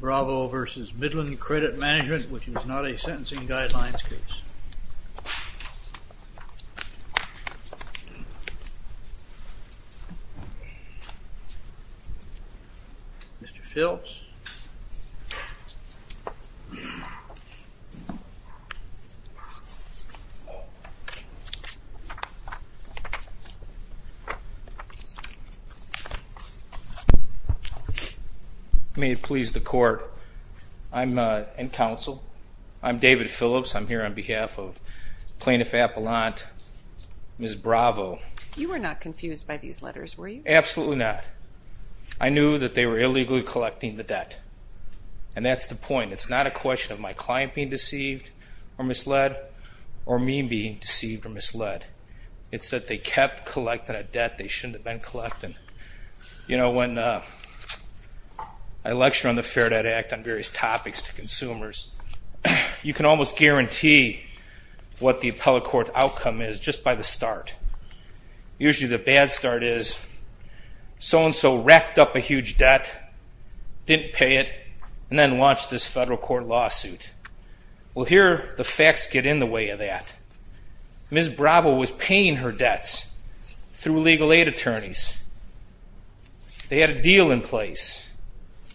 Bravo v. Midland Credit Management, which is not a sentencing guidelines case. Mr. Phelps. May it please the court, I'm in counsel. I'm David Phillips. I'm here on behalf of Plaintiff Appelant, Ms. Bravo. You were not confused by these letters, were you? Absolutely not. I knew that they were illegally collecting the debt. And that's the point. It's not a question of my client being deceived or misled or me being deceived or misled. It's that they kept collecting a debt they shouldn't have been collecting. You know, when I lecture on the Fair Debt Act on various topics to consumers, you can almost guarantee what the appellate court outcome is just by the start. Usually the bad start is so-and-so racked up a huge debt, didn't pay it, and then launched this federal court lawsuit. Well, here the facts get in the way of that. Ms. Bravo was paying her debts through legal aid attorneys. They had a deal in place.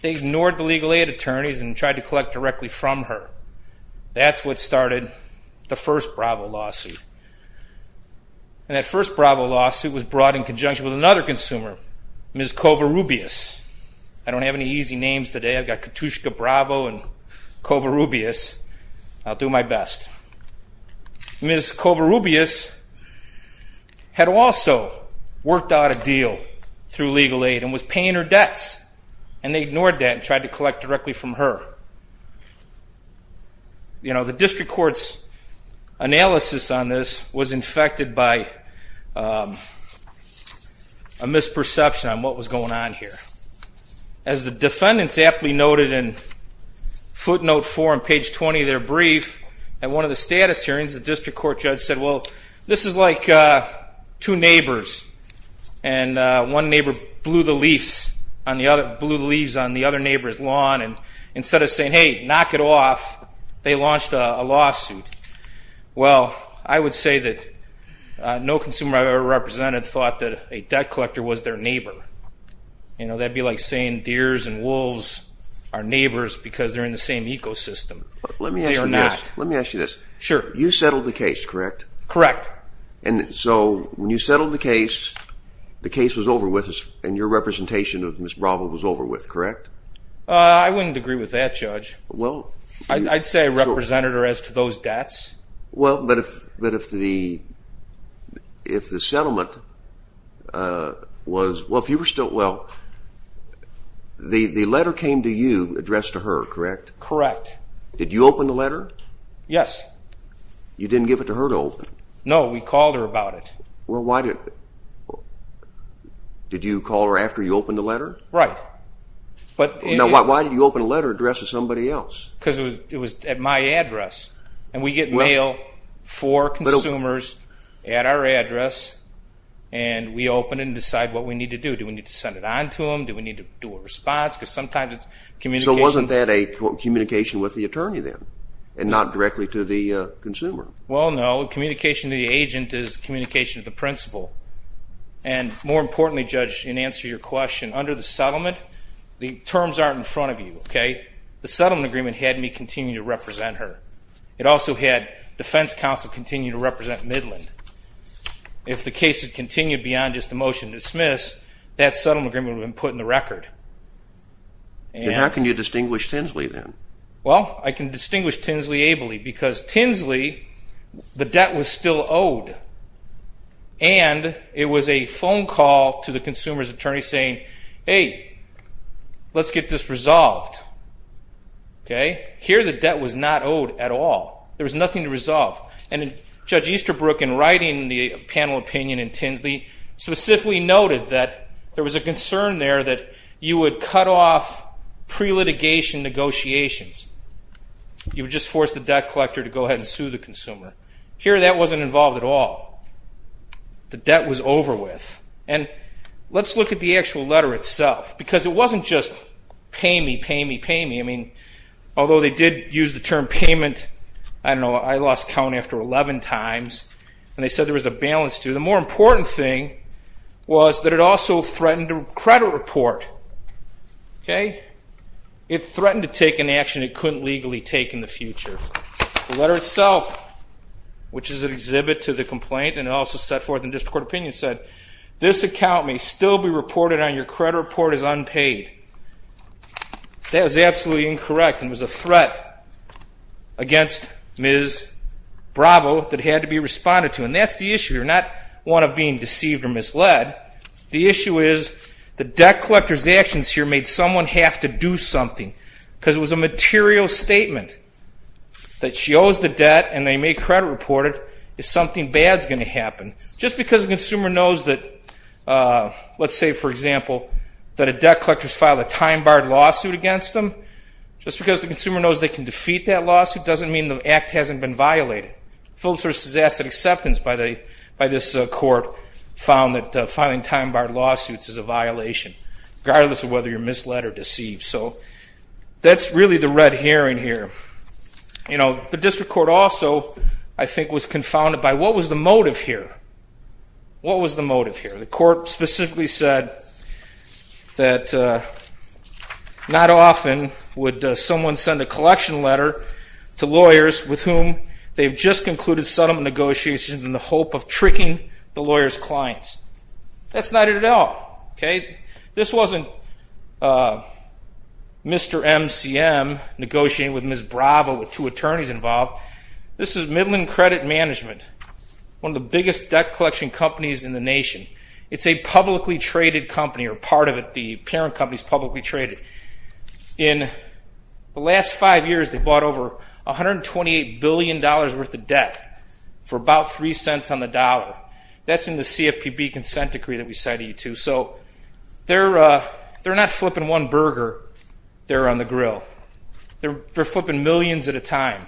They ignored the legal aid attorneys and tried to collect directly from her. That's what started the first Bravo lawsuit. And that first Bravo lawsuit was brought in conjunction with another consumer, Ms. Covarrubias. I don't have any easy names today. I've got Katushka Bravo and Covarrubias. I'll do my best. Ms. Covarrubias had also worked out a deal through legal aid and was paying her debts. And they ignored that and tried to collect directly from her. You know, the district court's analysis on this was infected by a misperception on what was going on here. As the defendants aptly noted in footnote 4 on page 20 of their brief, at one of the status hearings, the district court judge said, well, this is like two neighbors and one neighbor blew the leaves on the other neighbor's lawn. And instead of saying, hey, knock it off, they launched a lawsuit. Well, I would say that no consumer I've ever represented thought that a debt collector was their neighbor. You know, that would be like saying deers and wolves are neighbors because they're in the same ecosystem. They are not. Let me ask you this. You settled the case, correct? Correct. And so when you settled the case, the case was over with and your representation of Ms. Bravo was over with, correct? I wouldn't agree with that, Judge. I'd say I represented her as to those debts. Well, but if the settlement was, well, if you were still, well, the letter came to you addressed to her, correct? Correct. Did you open the letter? Yes. You didn't give it to her to open? No, we called her about it. Well, why did, did you call her after you opened the letter? Right. Now, why did you open a letter addressed to somebody else? Because it was at my address. And we get mail for consumers at our address and we open it and decide what we need to do. Do we need to send it on to them? Do we need to do a response? Because sometimes it's communication. Wasn't that a communication with the attorney then and not directly to the consumer? Well, no. Communication to the agent is communication to the principal. And more importantly, Judge, in answer to your question, under the settlement, the terms aren't in front of you, okay? The settlement agreement had me continue to represent her. It also had defense counsel continue to represent Midland. If the case had continued beyond just the motion to dismiss, that settlement agreement would have been put in the record. And how can you distinguish Tinsley then? Well, I can distinguish Tinsley ably because Tinsley, the debt was still owed. And it was a phone call to the consumer's attorney saying, hey, let's get this resolved, okay? Here the debt was not owed at all. There was nothing to resolve. And Judge Easterbrook, in writing the panel opinion in Tinsley, specifically noted that there was a concern there that you would cut off pre-litigation negotiations. You would just force the debt collector to go ahead and sue the consumer. Here that wasn't involved at all. The debt was over with. And let's look at the actual letter itself because it wasn't just pay me, pay me, pay me. I mean, although they did use the term payment, I don't know, I lost count after 11 times. And they said there was a balance due. But the more important thing was that it also threatened a credit report, okay? It threatened to take an action it couldn't legally take in the future. The letter itself, which is an exhibit to the complaint and also set forth in district court opinion, said this account may still be reported on your credit report as unpaid. That is absolutely incorrect and was a threat against Ms. Bravo that had to be responded to. And that's the issue here, not one of being deceived or misled. The issue is the debt collector's actions here made someone have to do something because it was a material statement that she owes the debt and they made credit report it if something bad is going to happen. Just because a consumer knows that, let's say, for example, that a debt collector has filed a time-barred lawsuit against them, just because the consumer knows they can defeat that lawsuit doesn't mean the act hasn't been violated. Phillips v. Asset Acceptance by this court found that filing time-barred lawsuits is a violation, regardless of whether you're misled or deceived. So that's really the red herring here. The district court also, I think, was confounded by what was the motive here. What was the motive here? The court specifically said that not often would someone send a collection letter to lawyers with whom they've just concluded settlement negotiations in the hope of tricking the lawyer's clients. That's not it at all. This wasn't Mr. MCM negotiating with Ms. Bravo with two attorneys involved. This is Midland Credit Management, one of the biggest debt collection companies in the nation. It's a publicly traded company, or part of it, the parent company is publicly traded. In the last five years, they've bought over $128 billion worth of debt for about three cents on the dollar. That's in the CFPB consent decree that we cited you to. So they're not flipping one burger there on the grill. They're flipping millions at a time,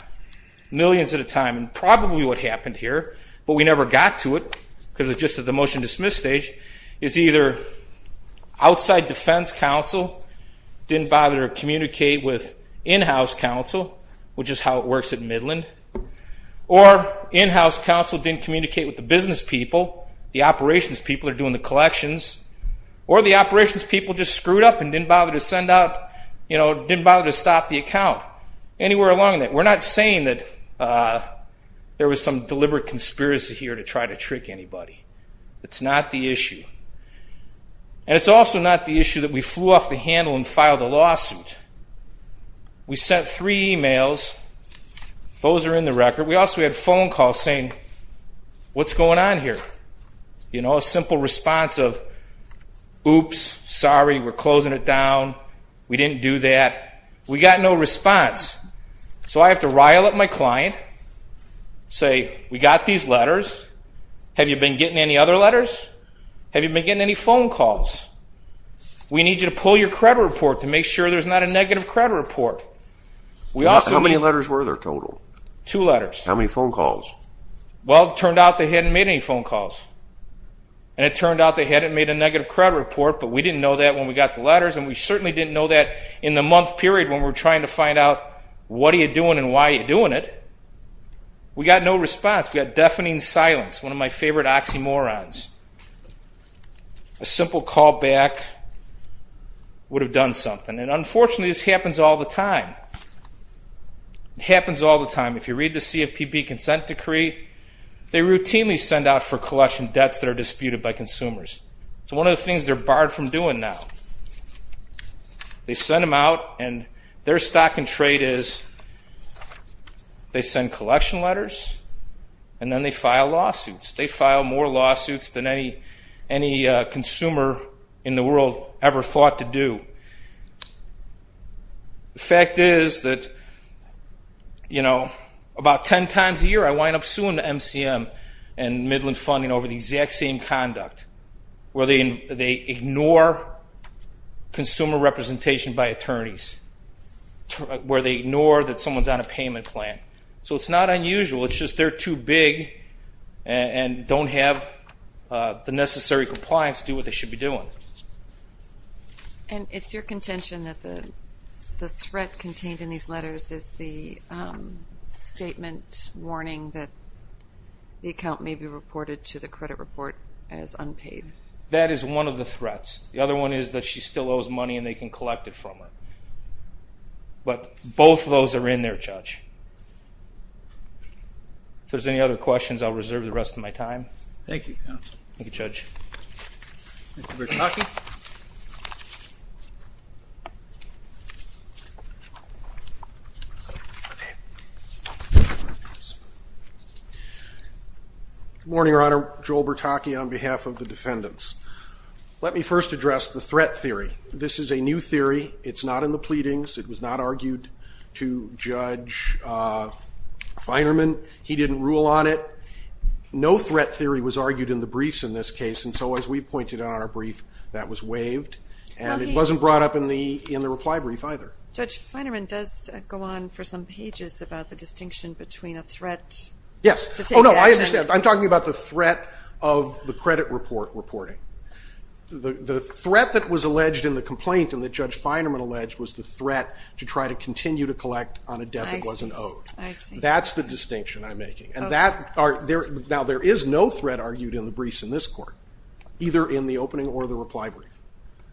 millions at a time. And probably what happened here, but we never got to it because it's just at the motion-dismiss stage, is either outside defense counsel didn't bother to communicate with in-house counsel, which is how it works at Midland, or in-house counsel didn't communicate with the business people, the operations people that are doing the collections, or the operations people just screwed up and didn't bother to stop the account. Anywhere along that. We're not saying that there was some deliberate conspiracy here to try to trick anybody. It's not the issue. And it's also not the issue that we flew off the handle and filed a lawsuit. We sent three emails. Those are in the record. We also had phone calls saying, what's going on here? You know, a simple response of, oops, sorry, we're closing it down, we didn't do that. We got no response. So I have to rile up my client, say, we got these letters. Have you been getting any other letters? Have you been getting any phone calls? We need you to pull your credit report to make sure there's not a negative credit report. How many letters were there total? Two letters. How many phone calls? Well, it turned out they hadn't made any phone calls. And it turned out they hadn't made a negative credit report, but we didn't know that when we got the letters, and we certainly didn't know that in the month period when we were trying to find out, what are you doing and why are you doing it? We got no response. We got deafening silence, one of my favorite oxymorons. A simple call back would have done something. And unfortunately, this happens all the time. It happens all the time. If you read the CFPB consent decree, they routinely send out for collection debts that are disputed by consumers. It's one of the things they're barred from doing now. They send them out, and their stock in trade is they send collection letters, and then they file lawsuits. They file more lawsuits than any consumer in the world ever thought to do. The fact is that, you know, about ten times a year I wind up suing the MCM and Midland Funding over the exact same conduct, where they ignore consumer representation by attorneys, where they ignore that someone's on a payment plan. So it's not unusual. It's just they're too big and don't have the necessary compliance to do what they should be doing. And it's your contention that the threat contained in these letters is the statement warning that the account may be reported to the credit report as unpaid. That is one of the threats. The other one is that she still owes money and they can collect it from her. But both of those are in there, Judge. If there's any other questions, I'll reserve the rest of my time. Thank you, counsel. Thank you, Judge. Thank you, Bertocchi. Good morning, Your Honor. Joel Bertocchi on behalf of the defendants. Let me first address the threat theory. This is a new theory. It's not in the pleadings. It was not argued to Judge Feinerman. He didn't rule on it. No threat theory was argued in the briefs in this case, and so as we pointed out in our brief, that was waived. And it wasn't brought up in the reply brief either. Judge Feinerman does go on for some pages about the distinction between a threat to take action. Yes. Oh, no, I understand. I'm talking about the threat of the credit report reporting. The threat that was alleged in the complaint and that Judge Feinerman alleged was the threat to try to continue to collect on a debt that wasn't owed. I see. That's the distinction I'm making. Now, there is no threat argued in the briefs in this court, either in the opening or the reply brief.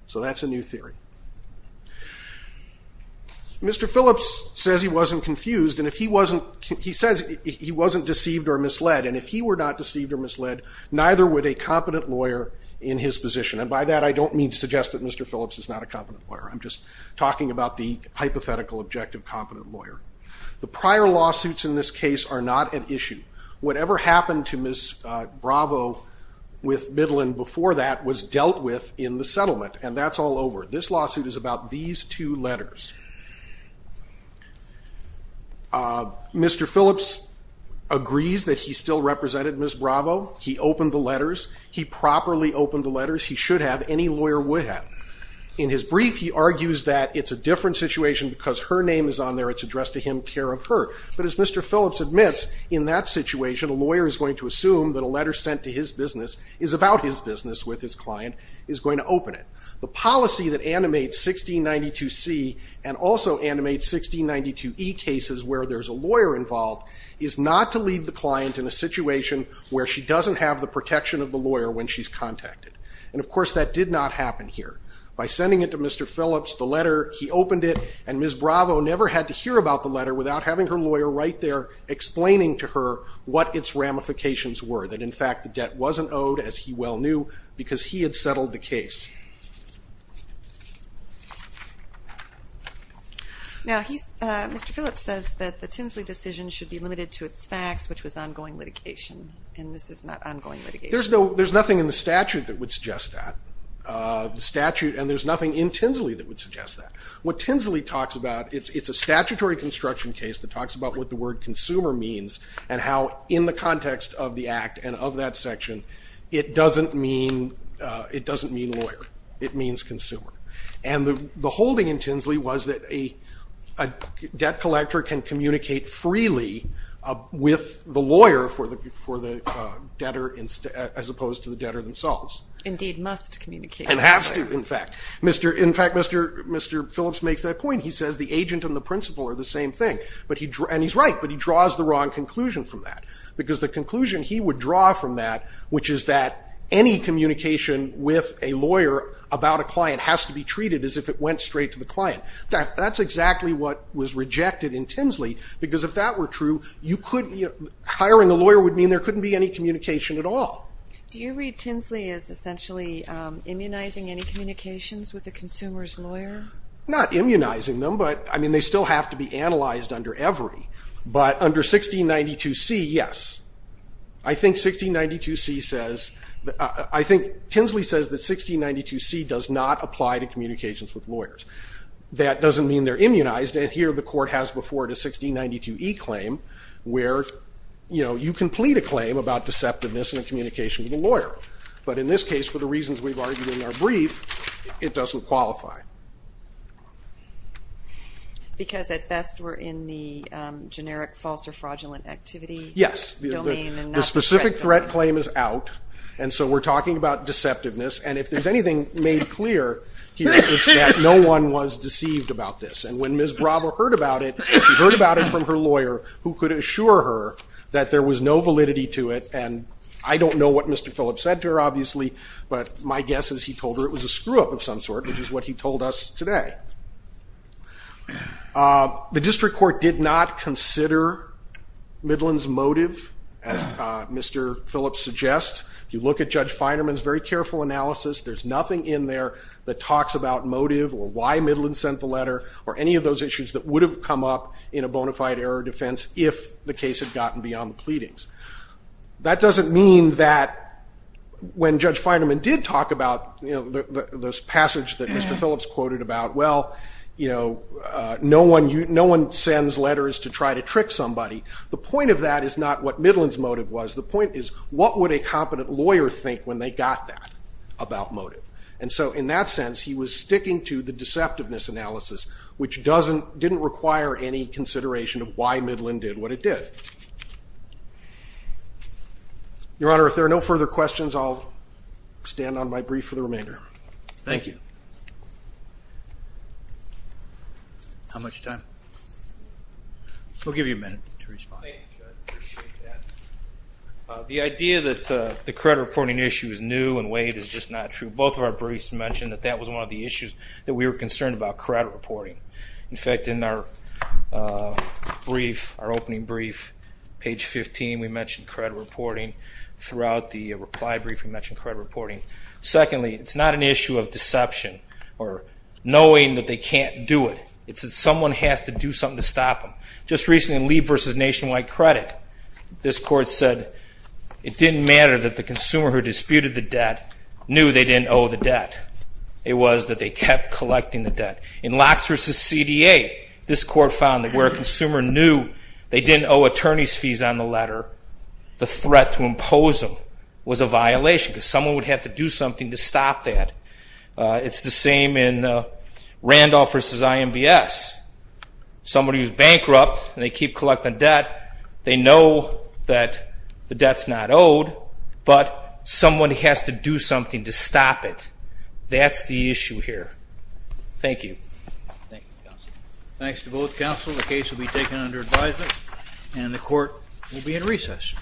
So that's a new theory. Mr. Phillips says he wasn't confused. He says he wasn't deceived or misled, and if he were not deceived or misled, neither would a competent lawyer in his position. And by that, I don't mean to suggest that Mr. Phillips is not a competent lawyer. I'm just talking about the hypothetical objective competent lawyer. The prior lawsuits in this case are not at issue. Whatever happened to Ms. Bravo with Midland before that was dealt with in the settlement, and that's all over. This lawsuit is about these two letters. Mr. Phillips agrees that he still represented Ms. Bravo. He opened the letters. He properly opened the letters. He should have. Any lawyer would have. In his brief, he argues that it's a different situation because her name is on there. It's addressed to him, care of her. But as Mr. Phillips admits, in that situation, a lawyer is going to assume that a letter sent to his business is about his business with his client, is going to open it. The policy that animates 1692C and also animates 1692E cases where there's a lawyer involved is not to leave the client in a situation where she doesn't have the protection of the lawyer when she's contacted. And, of course, that did not happen here. By sending it to Mr. Phillips, the letter, he opened it, and Ms. Bravo never had to hear about the letter without having her lawyer right there explaining to her what its ramifications were, that, in fact, the debt wasn't owed, as he well knew, because he had settled the case. Now, Mr. Phillips says that the Tinsley decision should be limited to its facts, which was ongoing litigation, and this is not ongoing litigation. There's nothing in the statute that would suggest that, and there's nothing in Tinsley that would suggest that. What Tinsley talks about, it's a statutory construction case that talks about what the word consumer means and how in the context of the Act and of that section, it doesn't mean lawyer. It means consumer. And the holding in Tinsley was that a debt collector can communicate freely with the lawyer for the debtor as opposed to the debtor themselves. Indeed, must communicate. And has to, in fact. In fact, Mr. Phillips makes that point. He says the agent and the principal are the same thing, and he's right, but he draws the wrong conclusion from that, because the conclusion he would draw from that, which is that any communication with a lawyer about a client has to be treated as if it went straight to the client. That's exactly what was rejected in Tinsley, because if that were true, hiring a lawyer would mean there couldn't be any communication at all. Do you read Tinsley as essentially immunizing any communications with a consumer's lawyer? Not immunizing them, but they still have to be analyzed under every. But under 1692C, yes. I think Tinsley says that 1692C does not apply to communications with lawyers. That doesn't mean they're immunized, and here the court has before it a 1692E claim where you can plead a claim about deceptiveness in a communication with a lawyer. But in this case, for the reasons we've argued in our brief, it doesn't qualify. Because at best we're in the generic false or fraudulent activity? Yes. The specific threat claim is out, and so we're talking about deceptiveness, and if there's anything made clear here, it's that no one was deceived about this. And when Ms. Bravo heard about it, she heard about it from her lawyer, who could assure her that there was no validity to it, and I don't know what Mr. Phillips said to her, obviously, but my guess is he told her it was a screw-up of some sort, which is what he told us today. The district court did not consider Midland's motive, as Mr. Phillips suggests. If you look at Judge Feinerman's very careful analysis, there's nothing in there that talks about motive or why Midland sent the letter, or any of those issues that would have come up in a bona fide error defense if the case had gotten beyond the pleadings. That doesn't mean that when Judge Feinerman did talk about this passage that Mr. Phillips quoted about, well, no one sends letters to try to trick somebody. The point of that is not what Midland's motive was. The point is, what would a competent lawyer think when they got that about motive? And so in that sense, he was sticking to the deceptiveness analysis, which didn't require any consideration of why Midland did what it did. Your Honor, if there are no further questions, I'll stand on my brief for the remainder. Thank you. How much time? We'll give you a minute to respond. Thank you, Judge. I appreciate that. The idea that the credit reporting issue is new and waived is just not true. Both of our briefs mentioned that that was one of the issues that we were concerned about, credit reporting. In fact, in our opening brief, page 15, we mentioned credit reporting. Throughout the reply brief, we mentioned credit reporting. Secondly, it's not an issue of deception or knowing that they can't do it. It's that someone has to do something to stop them. Just recently in Lee v. Nationwide Credit, this court said it didn't matter that the consumer who disputed the debt knew they didn't owe the debt. It was that they kept collecting the debt. In Locks v. CDA, this court found that where a consumer knew they didn't owe attorney's fees on the letter, the threat to impose them was a violation because someone would have to do something to stop that. It's the same in Randolph v. IMBS. Somebody who's bankrupt and they keep collecting debt, they know that the debt's not owed, but someone has to do something to stop it. That's the issue here. Thank you. Thank you, counsel. Thanks to both counsel. The case will be taken under advisement, and the court will be in recess.